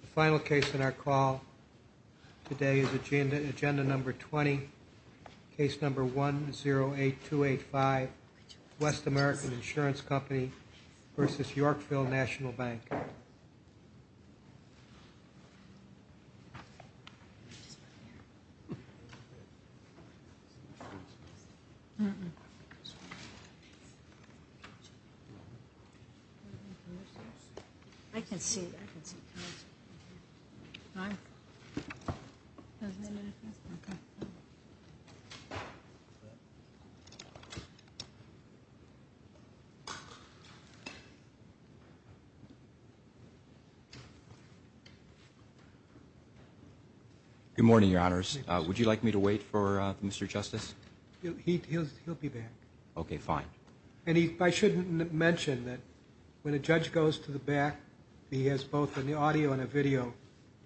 The final case in our call today is agenda number 20, case number 108285, West American Insurance Company v. Yorkville National Bank. I can see it, I can see it. Good morning, Your Honors. Would you like me to wait for Mr. Justice? He'll be back. Okay, fine. And I shouldn't mention that when a judge goes to the back he has both an audio and a video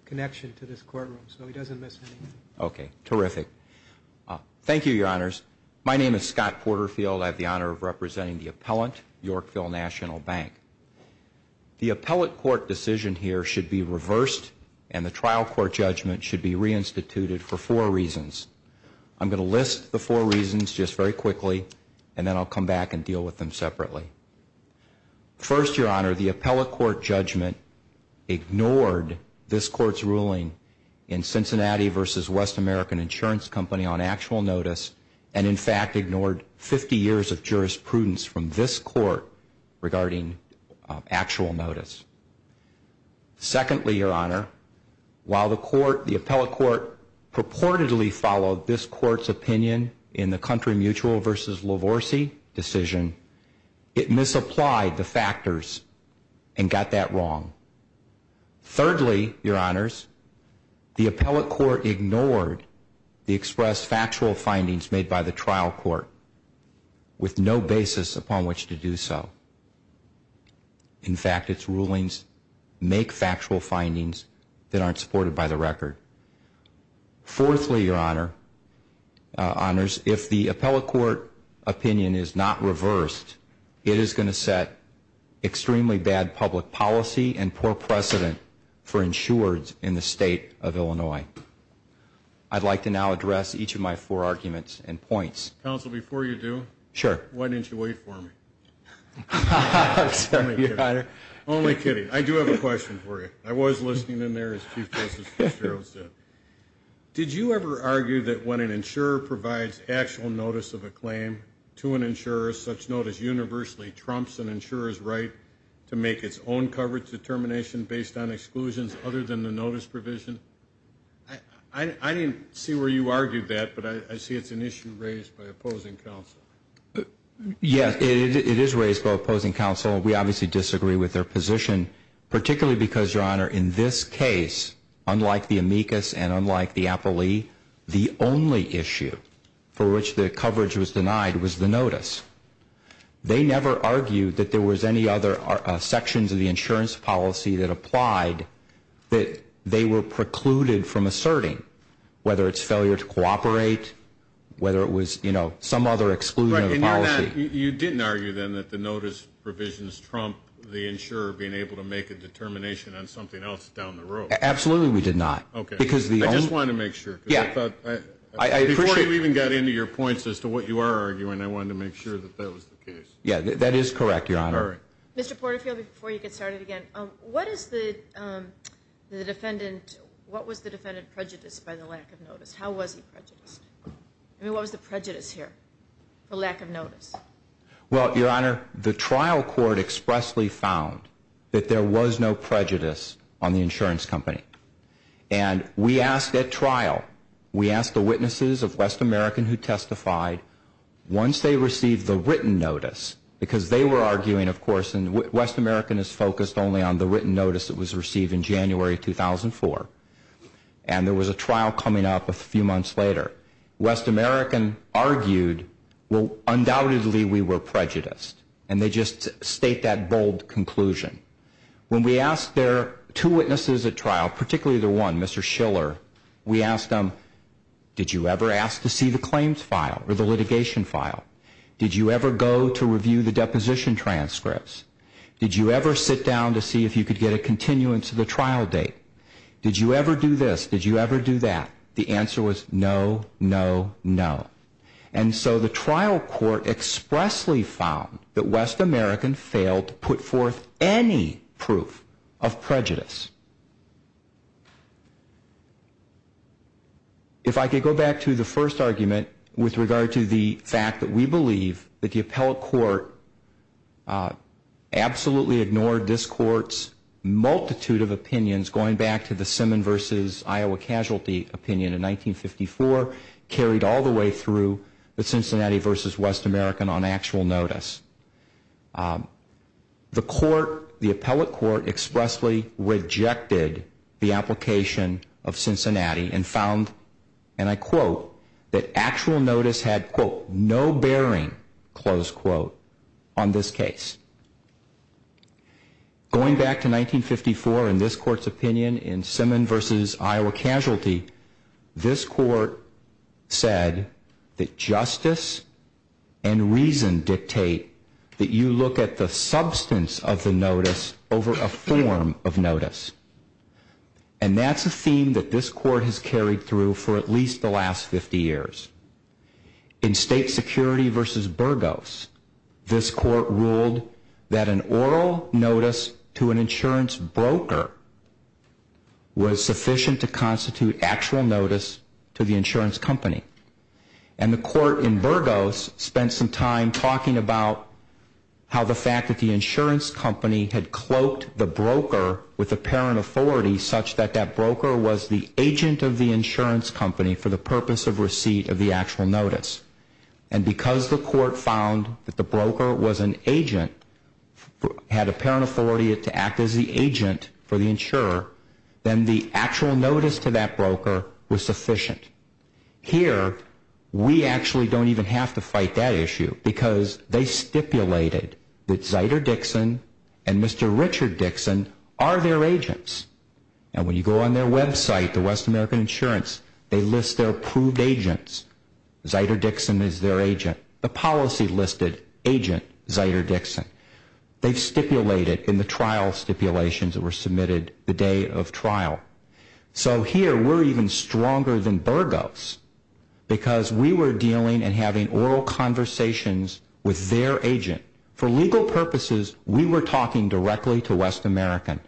connection to this courtroom, so he doesn't miss anything. Okay. Terrific. Thank you, Your Honors. My name is Scott Porterfield. I have the honor of representing the appellant, Yorkville National Bank. The appellate court decision here should be reversed, and the trial court judgment should be reinstituted for four reasons. I'm going to list the four reasons just very quickly, and then I'll come back and deal with them separately. First, Your Honor, the appellate court judgment ignored this court's ruling in Cincinnati v. West American Insurance Company on actual notice, and in fact ignored 50 years of jurisprudence from this court regarding actual notice. Secondly, Your Honor, while the appellate court purportedly followed this court's opinion in the Country Mutual v. Lavorsi decision, it misapplied the factors and got that wrong. Thirdly, Your Honors, the appellate court ignored the expressed factual findings made by the trial court with no basis upon which to do so. In fact, its rulings make factual findings that aren't supported by the record. Fourthly, Your Honors, if the appellate court opinion is not reversed, it is going to set extremely bad public policy and poor precedent for insureds in the state of Illinois. I'd like to now address each of my four arguments and points. Counsel, before you do, why didn't you wait for me? I'm sorry, Your Honor. Only kidding. I do have a question for you. I was listening in there, as Chief Justice Fitzgerald said. Did you ever argue that when an insurer provides actual notice of a claim to an insurer, such notice universally trumps an insurer's right to make its own coverage determination based on exclusions other than the notice provision? I didn't see where you argued that, but I see it's an issue raised by opposing counsel. Yes, it is raised by opposing counsel. We obviously disagree with their position, particularly because, Your Honor, in this case, unlike the amicus and unlike the appellee, the only issue for which the coverage was denied was the notice. They never argued that there was any other sections of the insurance policy that applied that they were precluded from asserting, whether it's failure to cooperate, whether it was some other exclusionary policy. You didn't argue, then, that the notice provisions trump the insurer being able to make a determination on something else down the road? Absolutely, we did not. Okay. I just wanted to make sure. Yeah. Before you even got into your points as to what you are arguing, I wanted to make sure that that was the case. That is correct, Your Honor. All right. Mr. Porterfield, before you get started again, what was the defendant prejudiced by the lack of notice? How was he prejudiced? I mean, what was the prejudice here for lack of notice? Well, Your Honor, the trial court expressly found that there was no prejudice on the insurance company. We asked at trial, we asked the witnesses of West American who testified, once they received the written notice, because they were arguing, of course, and West American is focused only on the written notice that was received in January 2004, and there was a trial coming up a few months later. West American argued, well, undoubtedly, we were prejudiced, and they just state that bold conclusion. When we asked their two witnesses at trial, particularly their one, Mr. Schiller, we asked them, did you ever ask to see the claims file or the litigation file? Did you ever go to review the deposition transcripts? Did you ever sit down to see if you could get a continuance of the trial date? Did you ever do this? Did you ever do that? The answer was no, no, no. And so the trial court expressly found that West American failed to put forth any proof of prejudice. If I could go back to the first argument with regard to the fact that we believe that the appellate court absolutely ignored this court's multitude of opinions, going back to the Iowa casualty opinion in 1954 carried all the way through the Cincinnati versus West American on actual notice. The court, the appellate court, expressly rejected the application of Cincinnati and found, and I quote, that actual notice had, quote, no bearing, close quote, on this case. Going back to 1954 and this court's opinion in Simmons versus Iowa casualty, this court said that justice and reason dictate that you look at the substance of the notice over a form of notice. And that's a theme that this court has carried through for at least the last 50 years. In state security versus Burgos, this court ruled that an oral notice to an insurance broker was sufficient to constitute actual notice to the insurance company. And the court in Burgos spent some time talking about how the fact that the insurance company had cloaked the broker with apparent authority such that that broker was the agent of the insurance company for the purpose of receipt of the actual notice. And because the court found that the broker was an agent, had apparent authority to act as the agent for the insurer, then the actual notice to that broker was sufficient. Here, we actually don't even have to fight that issue because they stipulated that Zyder Dixon and Mr. Richard Dixon are their agents. And when you go on their website, the West American Insurance, they list their approved agents. Zyder Dixon is their agent. The policy listed agent Zyder Dixon. They've stipulated in the trial stipulations that were submitted the day of trial. So here, we're even stronger than Burgos because we were dealing and having oral conversations with their agent. For legal purposes, we were talking directly to West American.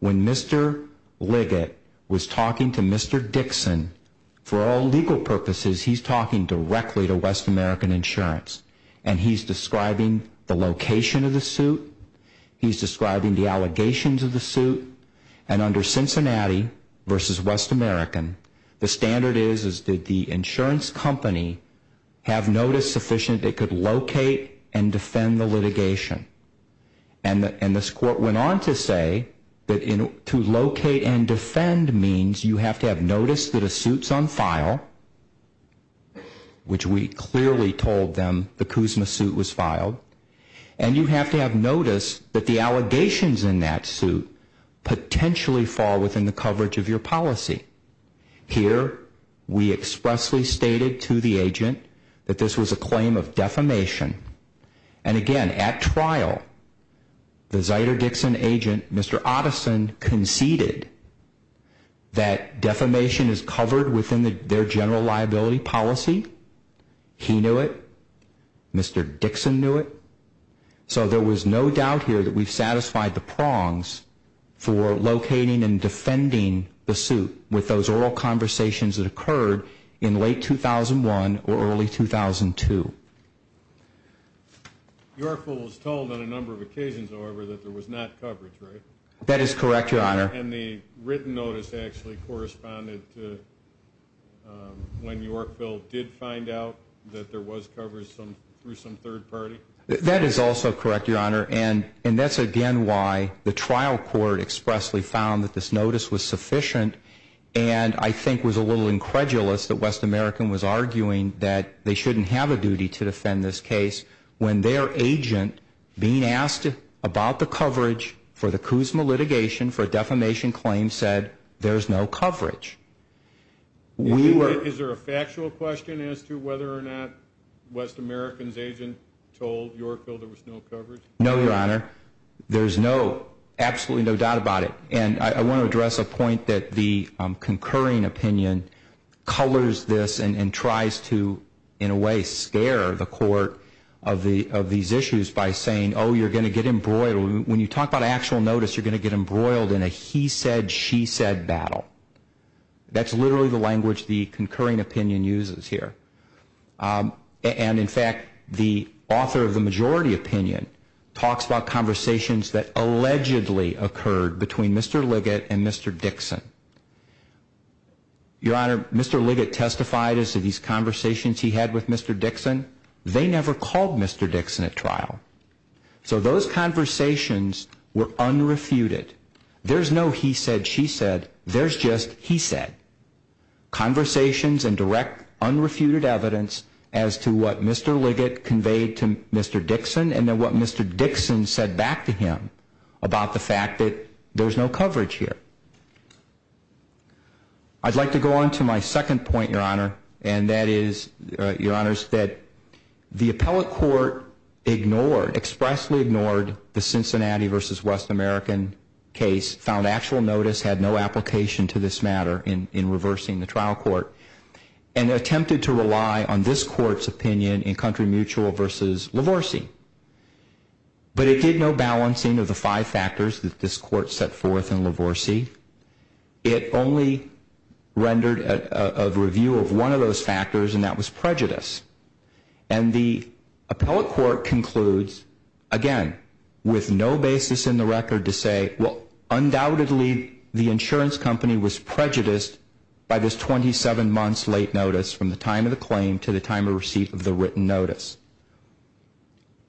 When Mr. Liggett was talking to Mr. Dixon, for all legal purposes, he's talking directly to West American Insurance. And he's describing the location of the suit. He's describing the allegations of the suit. And under Cincinnati versus West American, the standard is that the insurance company have notice sufficient they could locate and defend the litigation. And this court went on to say that to locate and defend means you have to have notice that a suit's on file, which we clearly told them the Kuzma suit was filed. And you have to have notice that the allegations in that suit potentially fall within the coverage of your policy. Here, we expressly stated to the agent that this was a claim of defamation. And again, at trial, the Zyder-Dixon agent, Mr. Otteson, conceded that defamation is covered within their general liability policy. He knew it. Mr. Dixon knew it. So there was no doubt here that we've satisfied the prongs for locating and defending the suit with those oral conversations that occurred in late 2001 or early 2002. Yorkville was told on a number of occasions, however, that there was not coverage, right? That is correct, Your Honor. And the written notice actually corresponded to when Yorkville did find out that there was coverage through some third party? That is also correct, Your Honor. And that's again why the trial court expressly found that this notice was sufficient and I think was a little incredulous that West American was arguing that they shouldn't have a duty to defend this case when their agent, being asked about the coverage for the Kuzma litigation for a defamation claim, said there's no coverage. Is there a factual question as to whether or not West American's agent told Yorkville there was no coverage? No, Your Honor. There's absolutely no doubt about it. And I want to address a point that the concurring opinion colors this and tries to, in a way, scare the court of these issues by saying, oh, you're going to get embroiled. When you talk about actual notice, you're going to get embroiled in a he said, she said battle. That's literally the language the concurring opinion uses here. And in fact, the author of the majority opinion talks about conversations that allegedly occurred between Mr. Liggett and Mr. Dixon. Your Honor, Mr. Liggett testified as to these conversations he had with Mr. Dixon. They never called Mr. Dixon at trial. So those conversations were unrefuted. There's no he said, she said. There's just he said. Conversations and direct unrefuted evidence as to what Mr. Liggett conveyed to Mr. Dixon and then what Mr. Dixon said back to him about the fact that there's no coverage here. I'd like to go on to my second point, Your Honor. And that is, Your Honors, that the appellate court ignored, expressly ignored the Cincinnati versus West American case, found actual notice had no application to this matter in reversing the trial court, and attempted to rely on this court's opinion in Country Mutual versus Lavorsi. But it did no balancing of the five factors that this court set forth in Lavorsi. It only rendered a review of one of those factors, and that was prejudice. And the appellate court concludes, again, with no basis in the record to say, well, undoubtedly the insurance company was prejudiced by this 27 months late notice from the time of the claim to the time of receipt of the written notice.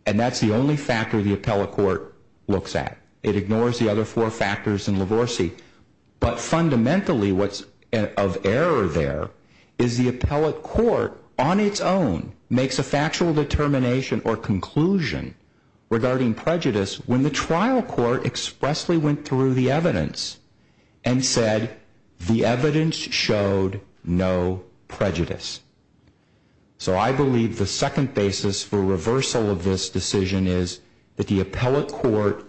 And that's the only factor the appellate court looks at. It ignores the other four factors in Lavorsi. But fundamentally, what's of error there is the appellate court, on its own, makes a factual determination or conclusion regarding prejudice when the trial court expressly went through the evidence and said, the evidence showed no prejudice. So I believe the second basis for reversal of this decision is that the appellate court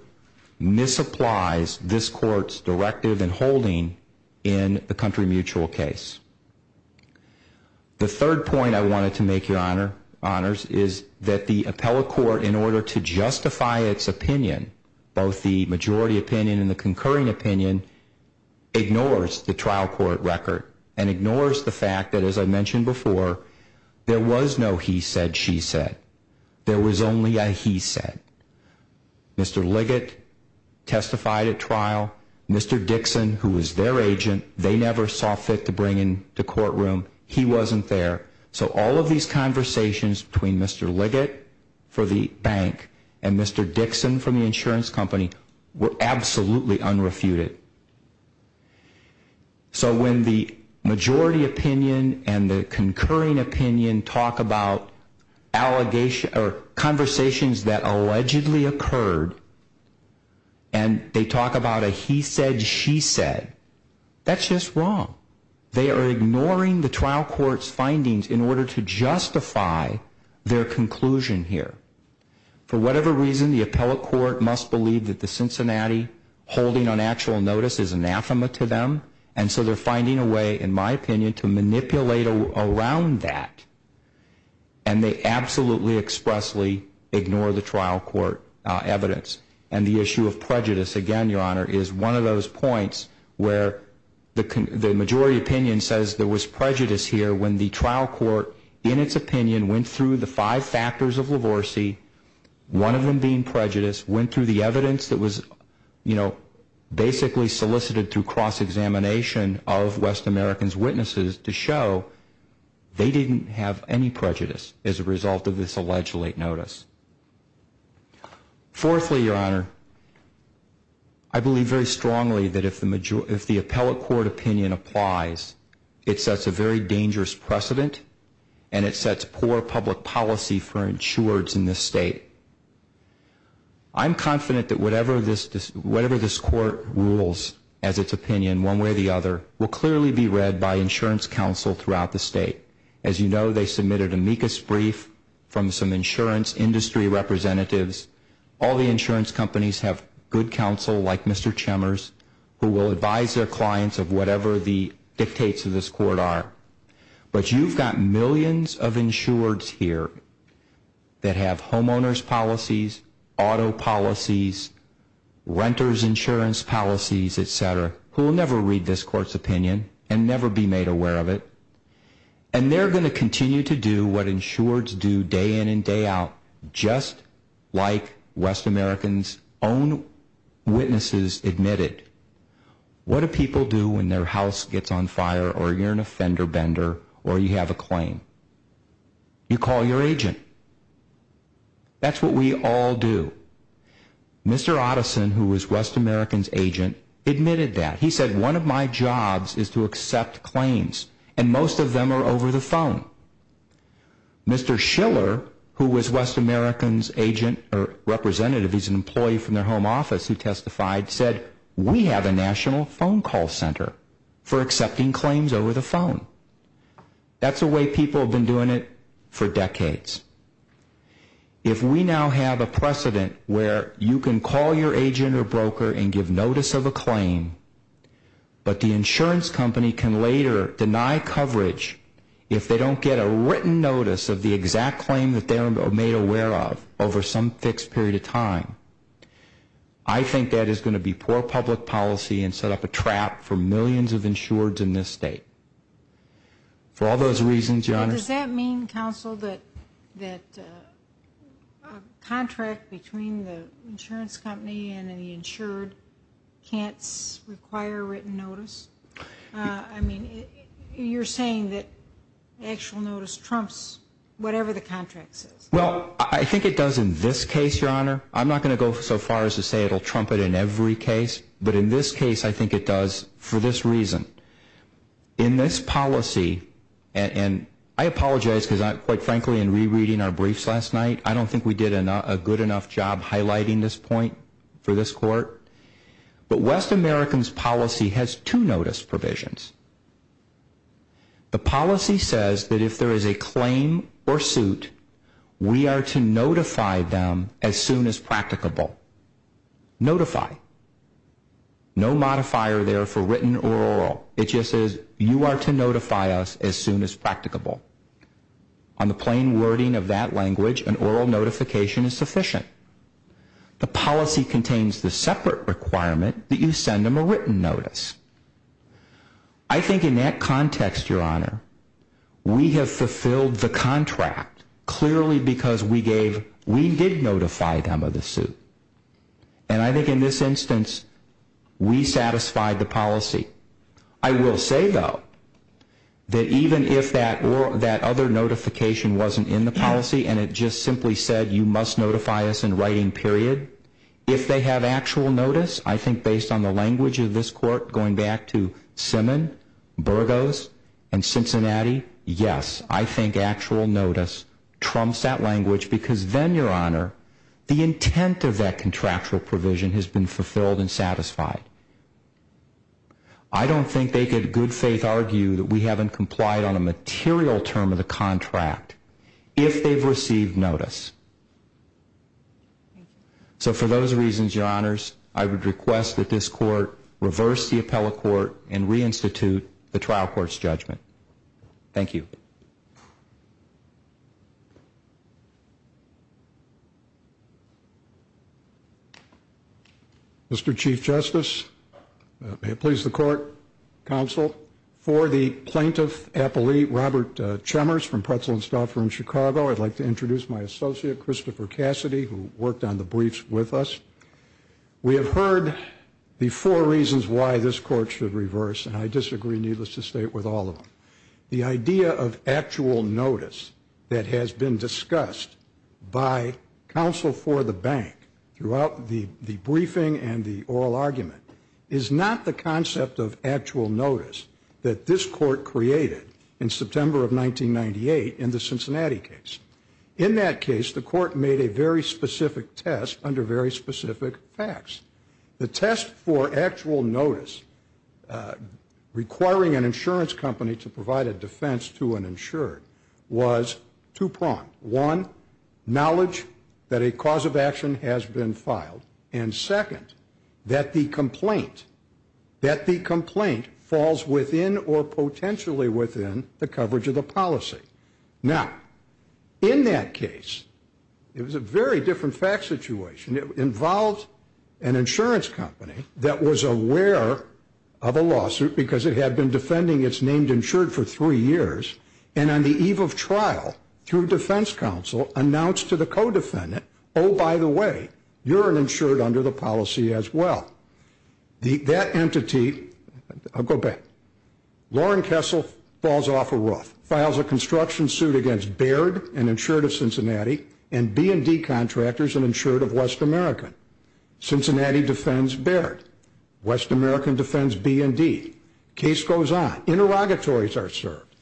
misapplies this court's directive and holding in the Country Mutual case. The third point I wanted to make, Your Honors, is that the appellate court, in order to justify its opinion, both the majority opinion and the concurring opinion, ignores the trial court record and ignores the fact that, as I mentioned before, there was no he said, she said. There was only a he said. Mr. Liggett testified at trial. Mr. Dixon, who was their agent, they never saw fit to bring him to courtroom. He wasn't there. So all of these conversations between Mr. Liggett for the bank and Mr. Dixon from the insurance company were absolutely unrefuted. So when the majority opinion and the concurring opinion talk about conversations that allegedly occurred, and they talk about a he said, she said, that's just wrong. They are ignoring the trial court's findings in order to justify their conclusion here. For whatever reason, the appellate court must believe that the Cincinnati holding on actual notice is anathema to them. And so they're finding a way, in my opinion, to manipulate around that. And they absolutely expressly ignore the trial court evidence. And the issue of prejudice, again, Your Honor, is one of those points where the majority opinion says there was prejudice here when the trial court, in its opinion, went through the five factors of Lavorsi, one of them being prejudice, went through the evidence that was basically solicited through cross-examination of West American's witnesses to show they didn't have any prejudice as a result of this alleged late notice. Fourthly, Your Honor, I believe very strongly that if the appellate court opinion applies, it sets a very dangerous precedent. And it sets poor public policy for insureds in this state. I'm confident that whatever this court rules as its opinion, one way or the other, will clearly be read by insurance counsel throughout the state. As you know, they submitted amicus brief from some insurance industry representatives. All the insurance companies have good counsel, like Mr. Chemers, who will advise their clients of whatever the dictates of this court are. But you've got millions of insureds here that have homeowner's policies, auto policies, renter's insurance policies, et cetera, who will never read this court's opinion and never be made aware of it. And they're going to continue to do what insureds do day in and day out, just like West American's own witnesses admitted. What do people do when their house gets on fire, or you're an offender bender, or you have a claim? You call your agent. That's what we all do. Mr. Otteson, who was West American's agent, admitted that. He said, one of my jobs is to accept claims, and most of them are over the phone. Mr. Schiller, who was West American's agent, or representative, he's an employee from their home office who testified, said, we have a national phone call center for accepting claims over the phone. That's the way people have been doing it for decades. If we now have a precedent where you can call your agent or broker and give notice of a claim, but the insurance company can later deny coverage if they don't get a written notice of the exact claim that they were made aware of over some fixed period of time, I think that is going to be poor public policy and set up a trap for millions of insureds in this state. For all those reasons, Your Honor. Does that mean, counsel, that a contract between the insurance company and the insured can't require written notice? I mean, you're saying that actual notice trumps whatever the contract says. Well, I think it does in this case, Your Honor. I'm not going to go so far as to say it will trump it in every case, but in this case, I think it does for this reason. In this policy, and I apologize, because quite frankly, in rereading our briefs last night, I don't think we did a good enough job highlighting this point for this Court, but West American's policy has two notice provisions. The policy says that if there is a claim or suit, we are to notify them as soon as practicable. Notify. No modifier there for written or oral. It just says you are to notify us as soon as practicable. On the plain wording of that language, an oral notification is sufficient. The policy contains the separate requirement that you send them a written notice. I think in that context, Your Honor, we have fulfilled the contract clearly because we did notify them of the suit. And I think in this instance, we satisfied the policy. I will say, though, that even if that other notification wasn't in the policy and it just simply said you must notify us in writing, period, if they have actual notice, I think based on the language of this Court, going back to Simmon, Burgos, and Cincinnati, yes, I think actual notice trumps that language because then, Your Honor, the intent of that contractual provision has been fulfilled and satisfied. I don't think they could, in good faith, argue that we haven't complied on a material term of the contract if they've received notice. So for those reasons, Your Honors, I would request that this Court reverse the appellate court and reinstitute the trial court's judgment. Thank you. Mr. Chief Justice, may it please the Court, counsel, for the plaintiff appellate, Robert Chemers from Pretzel and Stauffer in Chicago, I'd like to introduce my associate, Christopher Cassidy, who worked on the briefs with us. We have heard the four reasons why this Court should reverse, and I disagree, needless to state, with all of them. The idea of actual notice that has been discussed by counsel for the bank throughout the briefing and the oral argument is not the concept of actual notice that this Court created in September of 1998 in the Cincinnati case. In that case, the Court made a very specific test under very specific facts. The test for actual notice requiring an insurance company to provide a defense to an insured was two-pronged. One, knowledge that a cause of action has been filed, and second, that the complaint falls within or potentially within the coverage of the policy. Now, in that case, it was a very different fact situation. Because it had been defending its named insured for three years, and on the eve of trial, through defense counsel, announced to the co-defendant, oh, by the way, you're an insured under the policy as well. That entity, I'll go back. Lauren Kessel falls off a roof, files a construction suit against Baird, an insured of Cincinnati, and B&D contractors, an insured of West America. Cincinnati defends Baird. West American defends B&D. Case goes on. Interrogatories are served.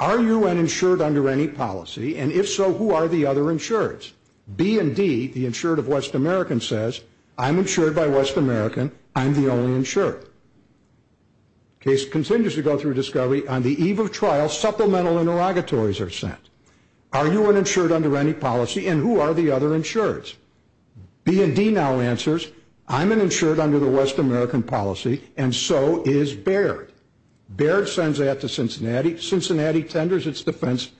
Are you an insured under any policy? And if so, who are the other insureds? B&D, the insured of West American, says, I'm insured by West American. I'm the only insured. Case continues to go through discovery. On the eve of trial, supplemental interrogatories are sent. Are you an insured under any policy? And who are the other insureds? B&D now answers, I'm an insured under the West American policy, and so is Baird. Baird sends that to Cincinnati. Cincinnati tenders its defense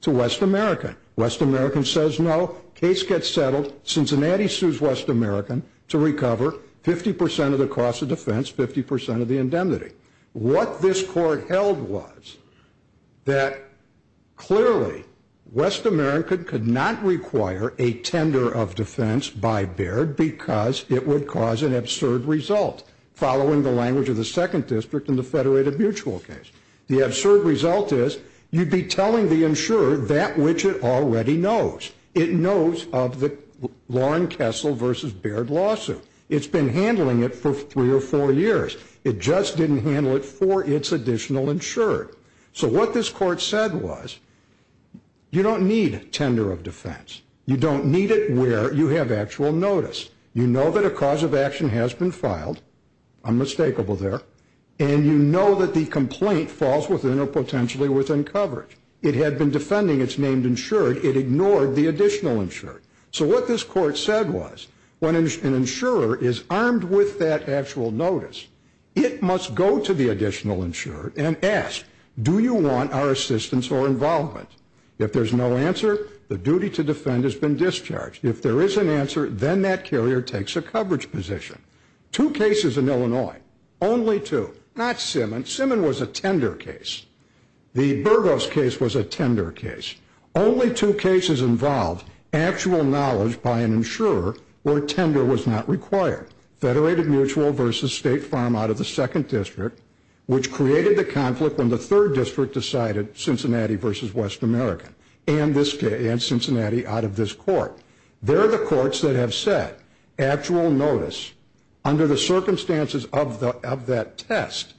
to West American. West American says no. Case gets settled. Cincinnati sues West American to recover 50% of the cost of defense, 50% of the indemnity. What this court held was that, clearly, West American could not require a tender of defense by Baird because it would cause an absurd result, following the language of the Second District in the Federated Mutual case. The absurd result is you'd be telling the insurer that which it already knows. It knows of the Lauren Kessel versus Baird lawsuit. It's been handling it for three or four years. It just didn't handle it for its additional insurer. So what this court said was, you don't need a tender of defense. You don't need it where you have actual notice. You know that a cause of action has been filed. Unmistakable there. And you know that the complaint falls within or potentially within coverage. It had been defending its named insured. It ignored the additional insured. So what this court said was, when an insurer is armed with that actual notice, it must go to the additional insured and ask, do you want our assistance or involvement? If there's no answer, the duty to defend has been discharged. If there is an answer, then that carrier takes a coverage position. Two cases in Illinois, only two. Not Simmon. Simmon was a tender case. The Burgos case was a tender case. Only two cases involved actual knowledge by an insurer where tender was not required. Federated Mutual versus State Farm out of the second district, which created the conflict when the third district decided, Cincinnati versus West America, and Cincinnati out of this court. They're the courts that have said, actual notice, under the circumstances of that test,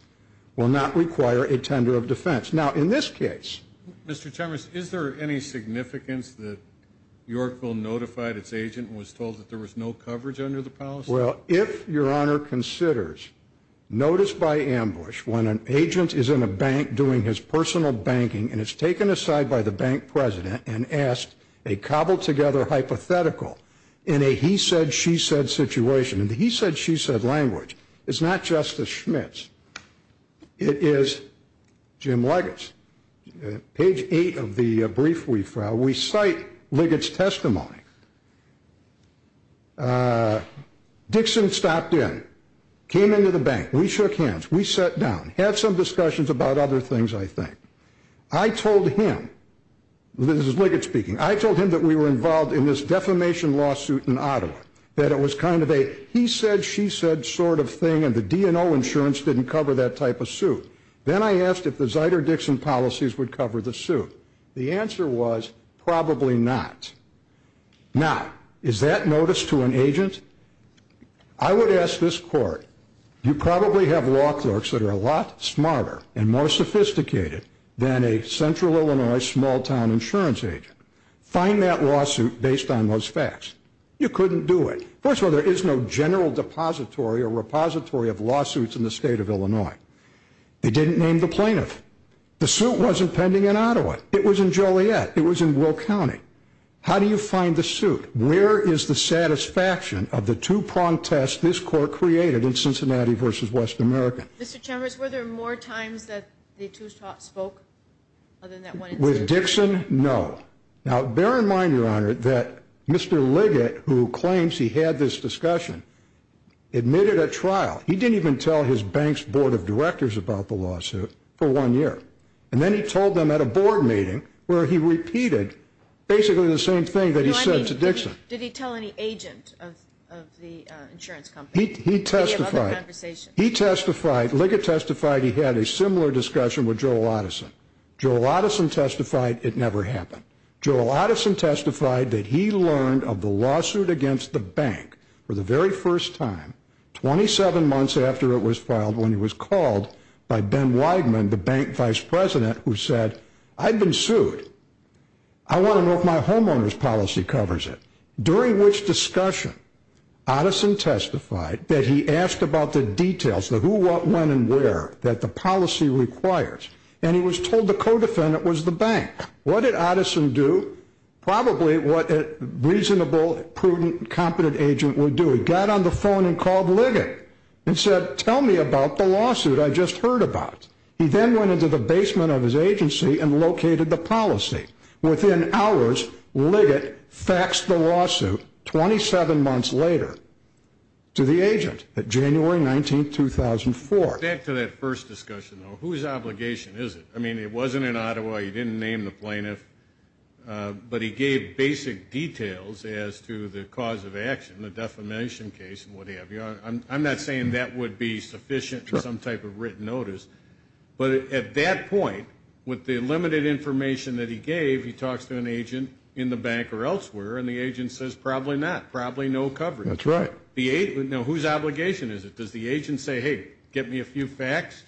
will not require a tender of defense. Now, in this case. Mr. Chambers, is there any significance that Yorkville notified its agent and was told that there was no coverage under the policy? Well, if your honor considers, notice by ambush, when an agent is in a bank doing his personal banking and is taken aside by the bank president and asked a cobbled together hypothetical in a he said, she said situation, in the he said, she said language, it's not Justice Schmitz. It is Jim Leggett's. Page eight of the brief we filed, we cite Leggett's testimony. Dixon stopped in, came into the bank, we shook hands, we sat down, had some discussions about other things, I think. I told him, this is Leggett speaking, I told him that we were involved in this defamation lawsuit in Ottawa. That it was kind of a he said, she said sort of thing, and the DNO insurance didn't cover that type of suit. Then I asked if the Zyder-Dixon policies would cover the suit. The answer was, probably not. Now, is that notice to an agent? I would ask this court, you probably have law clerks that are a lot smarter and more sophisticated than a central Illinois small town insurance agent. Find that lawsuit based on those facts. You couldn't do it. First of all, there is no general depository or repository of lawsuits in the state of Illinois. They didn't name the plaintiff. The suit wasn't pending in Ottawa. It was in Joliet. It was in Will County. How do you find the suit? Where is the satisfaction of the two-pronged test this court created in Cincinnati versus West America? Mr. Chambers, were there more times that the two spoke other than that one? With Dixon, no. Now, bear in mind, Your Honor, that Mr. Leggett, who claims he had this discussion, admitted at trial. He didn't even tell his bank's board of directors about the lawsuit for one year. And then he told them at a board meeting where he repeated basically the same thing that he said to Dixon. Did he tell any agent of the insurance company? He testified. He testified, Leggett testified he had a similar discussion with Joel Addison. Joel Addison testified it never happened. Joel Addison testified that he learned of the lawsuit against the bank for the very first time 27 months after it was filed when he was called by Ben Weidman, the bank vice president, who said, I've been sued. I want to know if my homeowner's policy covers it. During which discussion, Addison testified that he asked about the details, the who, what, when, and where that the policy requires. And he was told the co-defendant was the bank. What did Addison do? Probably what a reasonable, prudent, competent agent would do. He got on the phone and called Leggett and said, tell me about the lawsuit. I just heard about. He then went into the basement of his agency and located the policy. Within hours, Leggett faxed the lawsuit 27 months later to the agent at January 19th, 2004. Back to that first discussion, though. Whose obligation is it? I mean, it wasn't in Ottawa. He didn't name the plaintiff. But he gave basic details as to the cause of action, the defamation case and what have you. I'm not saying that would be sufficient for some type of written notice. But at that point, with the limited information that he gave, he talks to an agent in the bank or elsewhere, and the agent says probably not, probably no coverage. That's right. Now whose obligation is it? Does the agent say, hey, get me a few facts?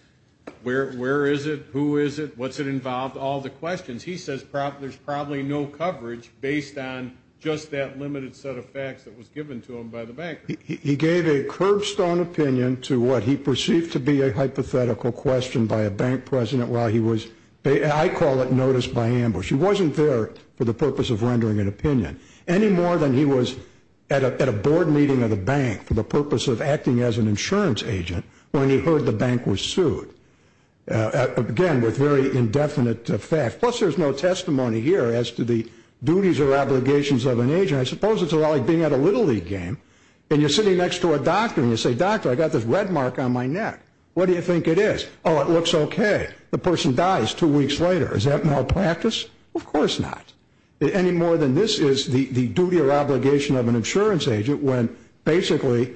Where is it? Who is it? What's it involved? All the questions. He says there's probably no coverage based on just that limited set of facts that was given to him by the bank. He gave a curbstone opinion to what he perceived to be a hypothetical question by a bank president while he was, I call it notice by ambush. He wasn't there for the purpose of rendering an opinion. Any more than he was at a board meeting of the bank for the purpose of acting as an insurance agent when he heard the bank was sued. Again, with very indefinite facts. Plus there's no testimony here as to the duties or obligations of an agent. I suppose it's a lot like being at a Little League game. And you're sitting next to a doctor and you say, doctor, I got this red mark on my neck. What do you think it is? Oh, it looks okay. The person dies two weeks later. Is that malpractice? Of course not. Any more than this is the duty or obligation of an insurance agent when basically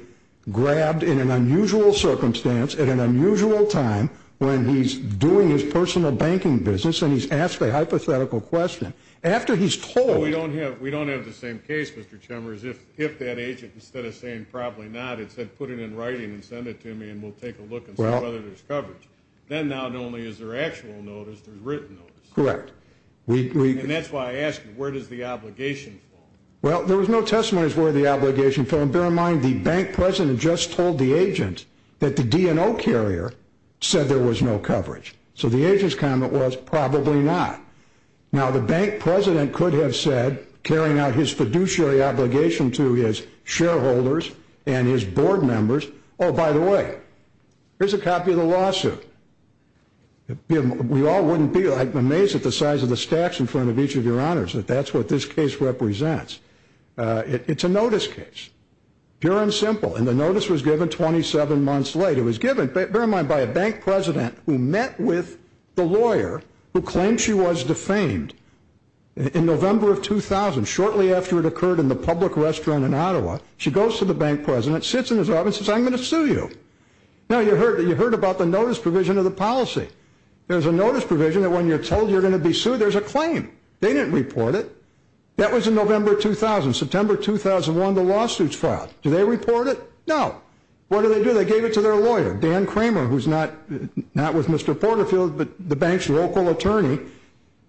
grabbed in an unusual circumstance at an unusual time when he's doing his personal banking business and he's asked a hypothetical question. After he's told- We don't have the same case, Mr. Chambers. If that agent, instead of saying probably not, it said put it in writing and send it to me and we'll take a look and see whether there's coverage. Then not only is there actual notice, there's written notice. Correct. And that's why I asked you, where does the obligation fall? Well, there was no testimony as to where the obligation fell. And bear in mind, the bank president just told the agent that the DNO carrier said there was no coverage. So the agent's comment was probably not. Now, the bank president could have said, carrying out his fiduciary obligation to his shareholders and his board members, oh, by the way, here's a copy of the lawsuit. We all wouldn't be amazed at the size of the stacks in front of each of your honors that that's what this case represents. It's a notice case. Pure and simple. And the notice was given 27 months late. It was given, bear in mind, by a bank president who met with the lawyer who claimed she was defamed in November of 2000, shortly after it occurred in the public restaurant in Ottawa. She goes to the bank president, sits in his office and says, I'm going to sue you. Now, you heard about the notice provision of the policy. There's a notice provision that when you're told you're going to be sued, there's a claim. They didn't report it. That was in November 2000. September 2001, the lawsuit's filed. Do they report it? No. What do they do? They gave it to their lawyer, Dan Kramer, who's not with Mr. Kramer's local attorney.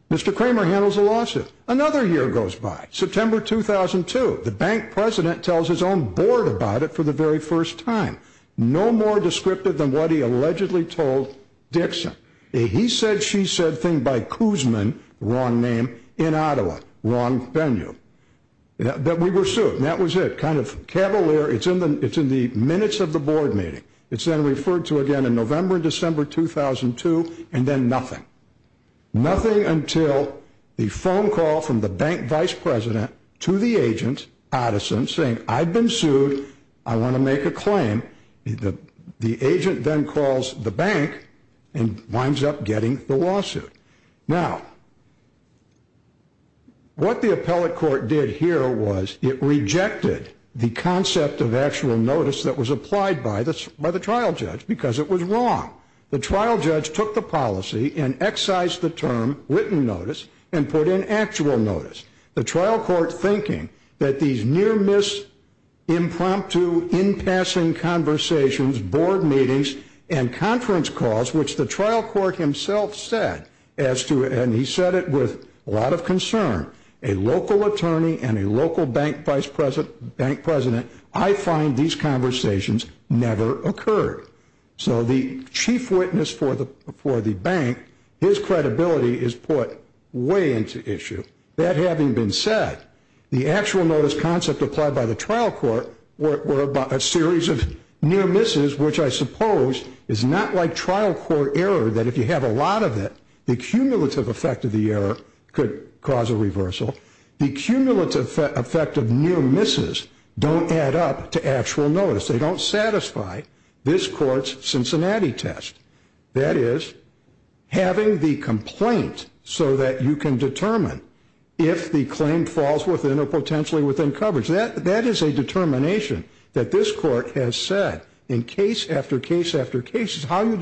Mr. Kramer handles the lawsuit. Another year goes by. September 2002, the bank president tells his own board about it for the very first time. No more descriptive than what he allegedly told Dixon. He said, she said thing by Koosman, wrong name, in Ottawa, wrong venue. That we were sued, and that was it. Kind of cavalier, it's in the minutes of the board meeting. It's then referred to again in November and December 2002, and then nothing. Nothing until the phone call from the bank vice president to the agent, Addison, saying, I've been sued. I want to make a claim. The agent then calls the bank and winds up getting the lawsuit. Now, what the appellate court did here was it rejected the concept of actual notice that was applied by the trial judge, because it was wrong. The trial judge took the policy and excised the term written notice and put in actual notice. The trial court thinking that these near miss, impromptu, in passing conversations, board meetings, and conference calls, which the trial court himself said, and he said it with a lot of concern, a local attorney and a local bank vice president, I find these conversations never occurred. So the chief witness for the bank, his credibility is put way into issue. That having been said, the actual notice concept applied by the trial court were about a series of near misses, which I suppose is not like trial court error, that if you have a lot of it, the cumulative effect of the error could cause a reversal. The cumulative effect of near misses don't add up to actual notice. They don't satisfy this court's Cincinnati test. That is, having the complaint so that you can determine if the claim falls within or potentially within coverage. That is a determination that this court has said in case after case after case, Read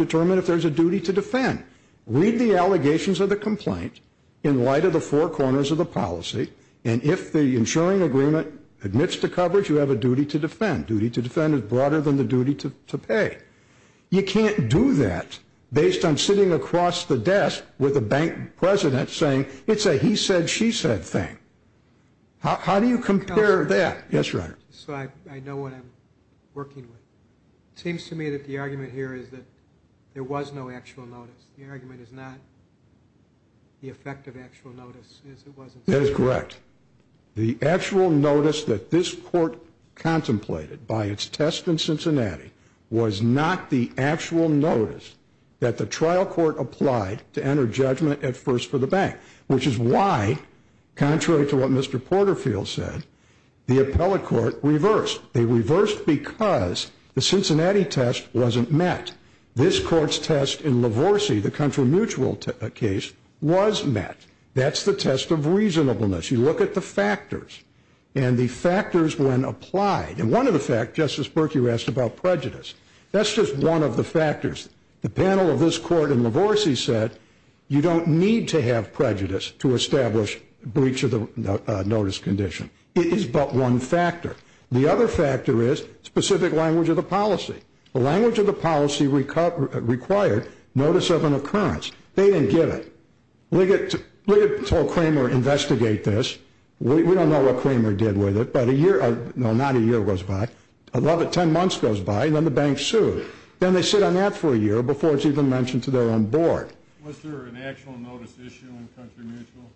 the allegations of the complaint in light of the four corners of the policy. And if the insuring agreement admits to coverage, you have a duty to defend. Duty to defend is broader than the duty to pay. You can't do that based on sitting across the desk with a bank president saying, it's a he said, she said thing. How do you compare that? Yes, your honor. So I know what I'm working with. Seems to me that the argument here is that there was no actual notice. The argument is not the effect of actual notice is it wasn't. That is correct. The actual notice that this court contemplated by its test in Cincinnati was not the actual notice that the trial court applied to enter judgment at first for the bank, which is why, contrary to what Mr. Porterfield said, the appellate court reversed. They reversed because the Cincinnati test wasn't met. This court's test in Lavorsi, the country mutual case, was met. That's the test of reasonableness. You look at the factors. And the factors when applied. And one of the fact, Justice Berkey, you asked about prejudice. That's just one of the factors. The panel of this court in Lavorsi said, you don't need to have prejudice to establish breach of the notice condition. It is but one factor. The other factor is specific language of the policy. The language of the policy required notice of an occurrence. They didn't get it. Liggett told Cramer, investigate this. We don't know what Cramer did with it. But a year, no, not a year goes by. About 10 months goes by, and then the bank sued. Then they sit on that for a year before it's even mentioned to their own board. Was there an actual notice issue in country mutual?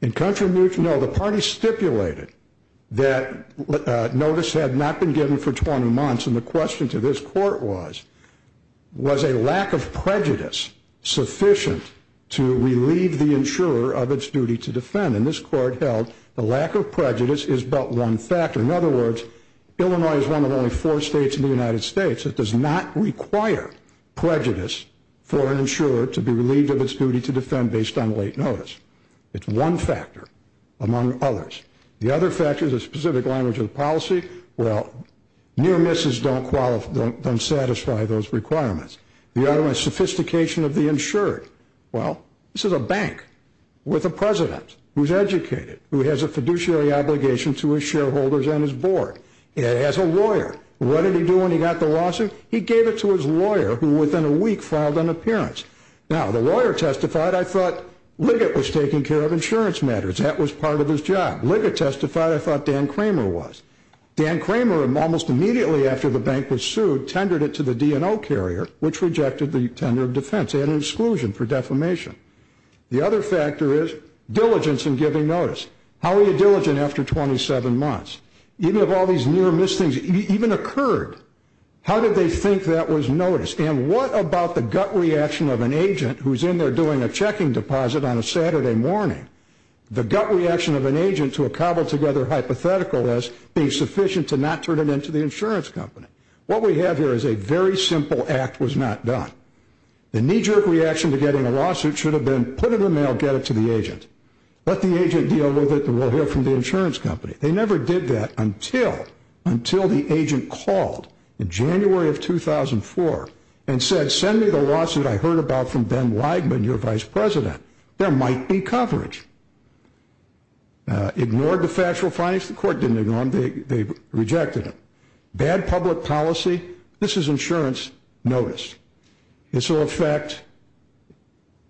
In country mutual, no, the party stipulated that notice had not been given for 20 months. And the question to this court was, was a lack of prejudice sufficient to relieve the insurer of its duty to defend? And this court held the lack of prejudice is but one factor. In other words, Illinois is one of only four states in the United States that does not require prejudice for an insurer to be relieved of its duty to defend based on late notice. It's one factor among others. The other factor is a specific language of the policy. Well, near misses don't satisfy those requirements. The other one is sophistication of the insured. Well, this is a bank with a president who's educated, who has a fiduciary obligation to his shareholders and his board. He has a lawyer. What did he do when he got the lawsuit? He gave it to his lawyer, who within a week filed an appearance. Now, the lawyer testified. I thought Liggett was taking care of insurance matters. That was part of his job. Liggett testified. I thought Dan Kramer was. Dan Kramer, almost immediately after the bank was sued, tendered it to the DNO carrier, which rejected the tender of defense. He had an exclusion for defamation. The other factor is diligence in giving notice. How were you diligent after 27 months? Even if all these near miss things even occurred, how did they think that was noticed? And what about the gut reaction of an agent who's in there doing a checking deposit on a Saturday morning? The gut reaction of an agent to a cobbled together hypothetical is being sufficient to not turn it into the insurance company. What we have here is a very simple act was not done. The knee jerk reaction to getting a lawsuit should have been put it in the mail, get it to the agent. Let the agent deal with it, and we'll hear from the insurance company. They never did that until the agent called in January of 2004 and said, send me the lawsuit I heard about from Ben Weigman, your vice president. There might be coverage. Ignored the factual findings. The court didn't ignore them. They rejected them. Bad public policy. This is insurance notice. This will affect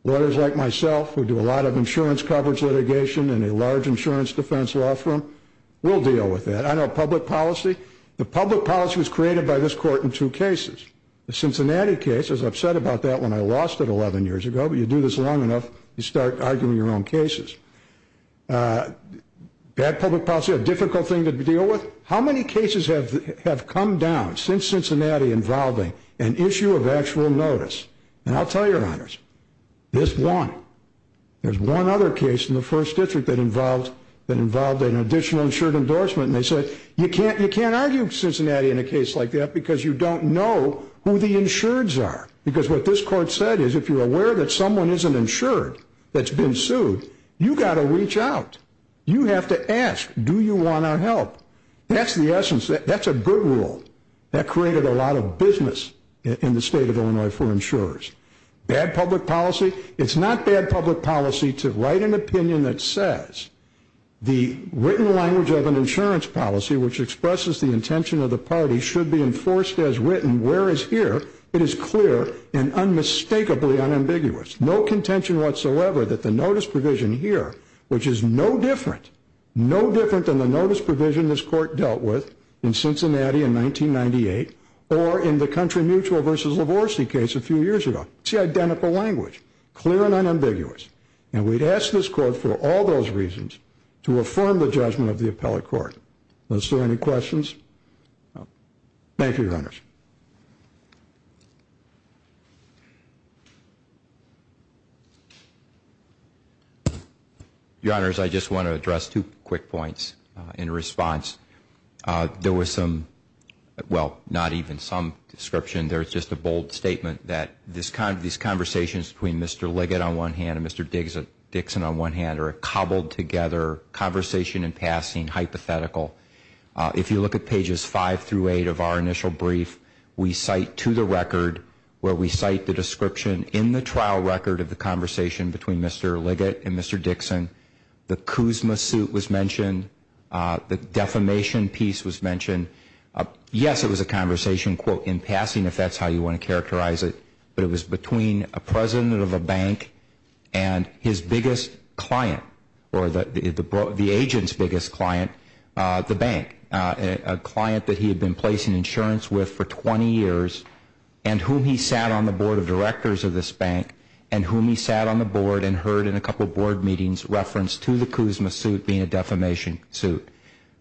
lawyers like myself, who do a lot of insurance coverage litigation in a large insurance defense law firm. We'll deal with that. I know public policy. The public policy was created by this court in two cases. The Cincinnati case, as I've said about that when I lost it 11 years ago, but you do this long enough, you start arguing your own cases. Bad public policy, a difficult thing to deal with. How many cases have come down since Cincinnati involving an issue of actual notice? And I'll tell your honors, this one. There's one other case in the first district that involved an additional insured endorsement. And they said, you can't argue Cincinnati in a case like that because you don't know who the insureds are. Because what this court said is, if you're aware that someone isn't insured that's been sued, you've got to reach out. You have to ask, do you want our help? That's the essence. That's a good rule. That created a lot of business in the state of Illinois for insurers. Bad public policy. It's not bad public policy to write an opinion that says the written language of an insurance policy, which expresses the intention of the party, should be enforced as written. Whereas here, it is clear and unmistakably unambiguous. No contention whatsoever that the notice provision here, which is no different, no different than the notice provision this court dealt with in Cincinnati in 1998, or in the Country Mutual versus Livorsi case a few years ago. It's the identical language. Clear and unambiguous. And we'd ask this court for all those reasons to affirm the judgment of the appellate court. Was there any questions? Thank you, your honors. Your honors, I just want to address two quick points in response. There was some, well, not even some description. There is just a bold statement that these conversations between Mr. Liggett on one hand and Mr. Dixon on one hand are a cobbled together conversation in passing hypothetical. If you look at pages five through eight of our initial brief, we cite to the record where we cite the description in the trial record of the conversation between Mr. Liggett and Mr. Dixon. The Kuzma suit was mentioned. The defamation piece was mentioned. Yes, it was a conversation, quote, in passing, if that's how you want to characterize it. But it was between a president of a bank and his biggest client, or the agent's biggest client, the bank, a client that he had been placing insurance with for 20 years, and whom he sat on the board of directors of this bank, and whom he sat on the board and heard in a couple board meetings reference to the Kuzma suit being a defamation suit.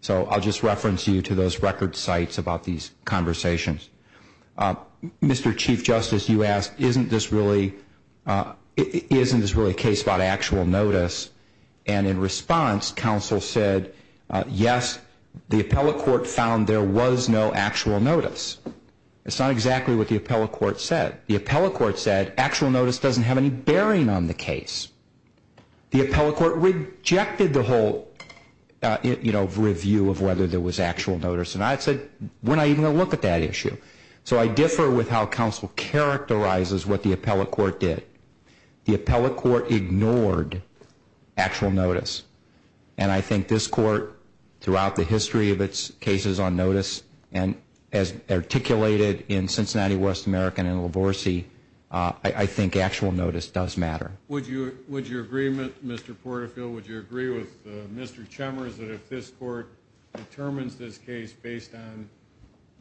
So I'll just reference you to those record sites about these conversations. Mr. Chief Justice, you asked, isn't this really a case about actual notice? And in response, counsel said, yes, the appellate court found there was no actual notice. It's not exactly what the appellate court said. The appellate court said actual notice doesn't have any bearing on the case. The appellate court rejected the whole review of whether there was actual notice. And I said, we're not even going to look at that issue. So I differ with how counsel characterizes what the appellate court did. The appellate court ignored actual notice. And I think this court, throughout the history of its cases on notice, and as articulated in Cincinnati, West American, and Lavorsi, I think actual notice does matter. Would your agreement, Mr. Porterfield, would you agree with Mr. Chemeris that if this court determines this case based on,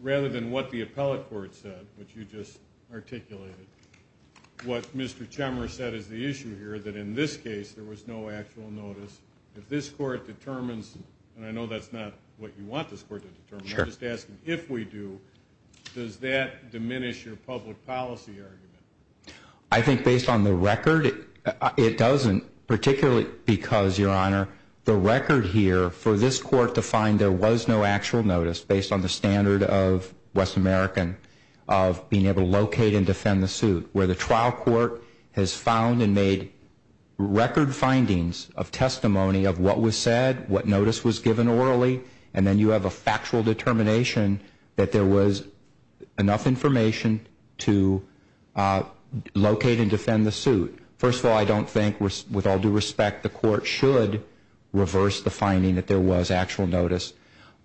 rather than what the appellate court said, which you just articulated, what Mr. Chemeris said is the issue here, that in this case, there was no actual notice. If this court determines, and I know that's not what you want this court to determine, I'm just asking, if we do, does that diminish your public policy argument? I think based on the record, it doesn't, particularly because, Your Honor, the record here for this court to find there was no actual notice, based on the standard of West American, of being able to locate and defend the suit, where the trial court has found and made record findings of testimony of what was said, what notice was given orally, and then you have a factual determination that there was enough information to locate and defend the suit. First of all, I don't think, with all due respect, the court should reverse the finding that there was actual notice.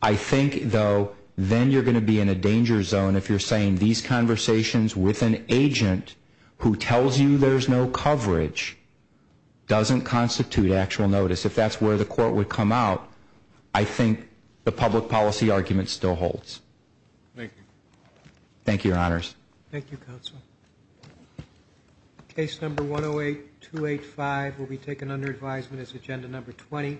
I think, though, then you're going to be in a danger zone if you're saying these conversations with an agent who tells you there's no coverage doesn't constitute actual notice. If that's where the court would come out, I think the public policy argument still holds. Thank you. Thank you, Your Honors. Thank you, Counsel. Case number 108285 will be taken under advisement as agenda number 20.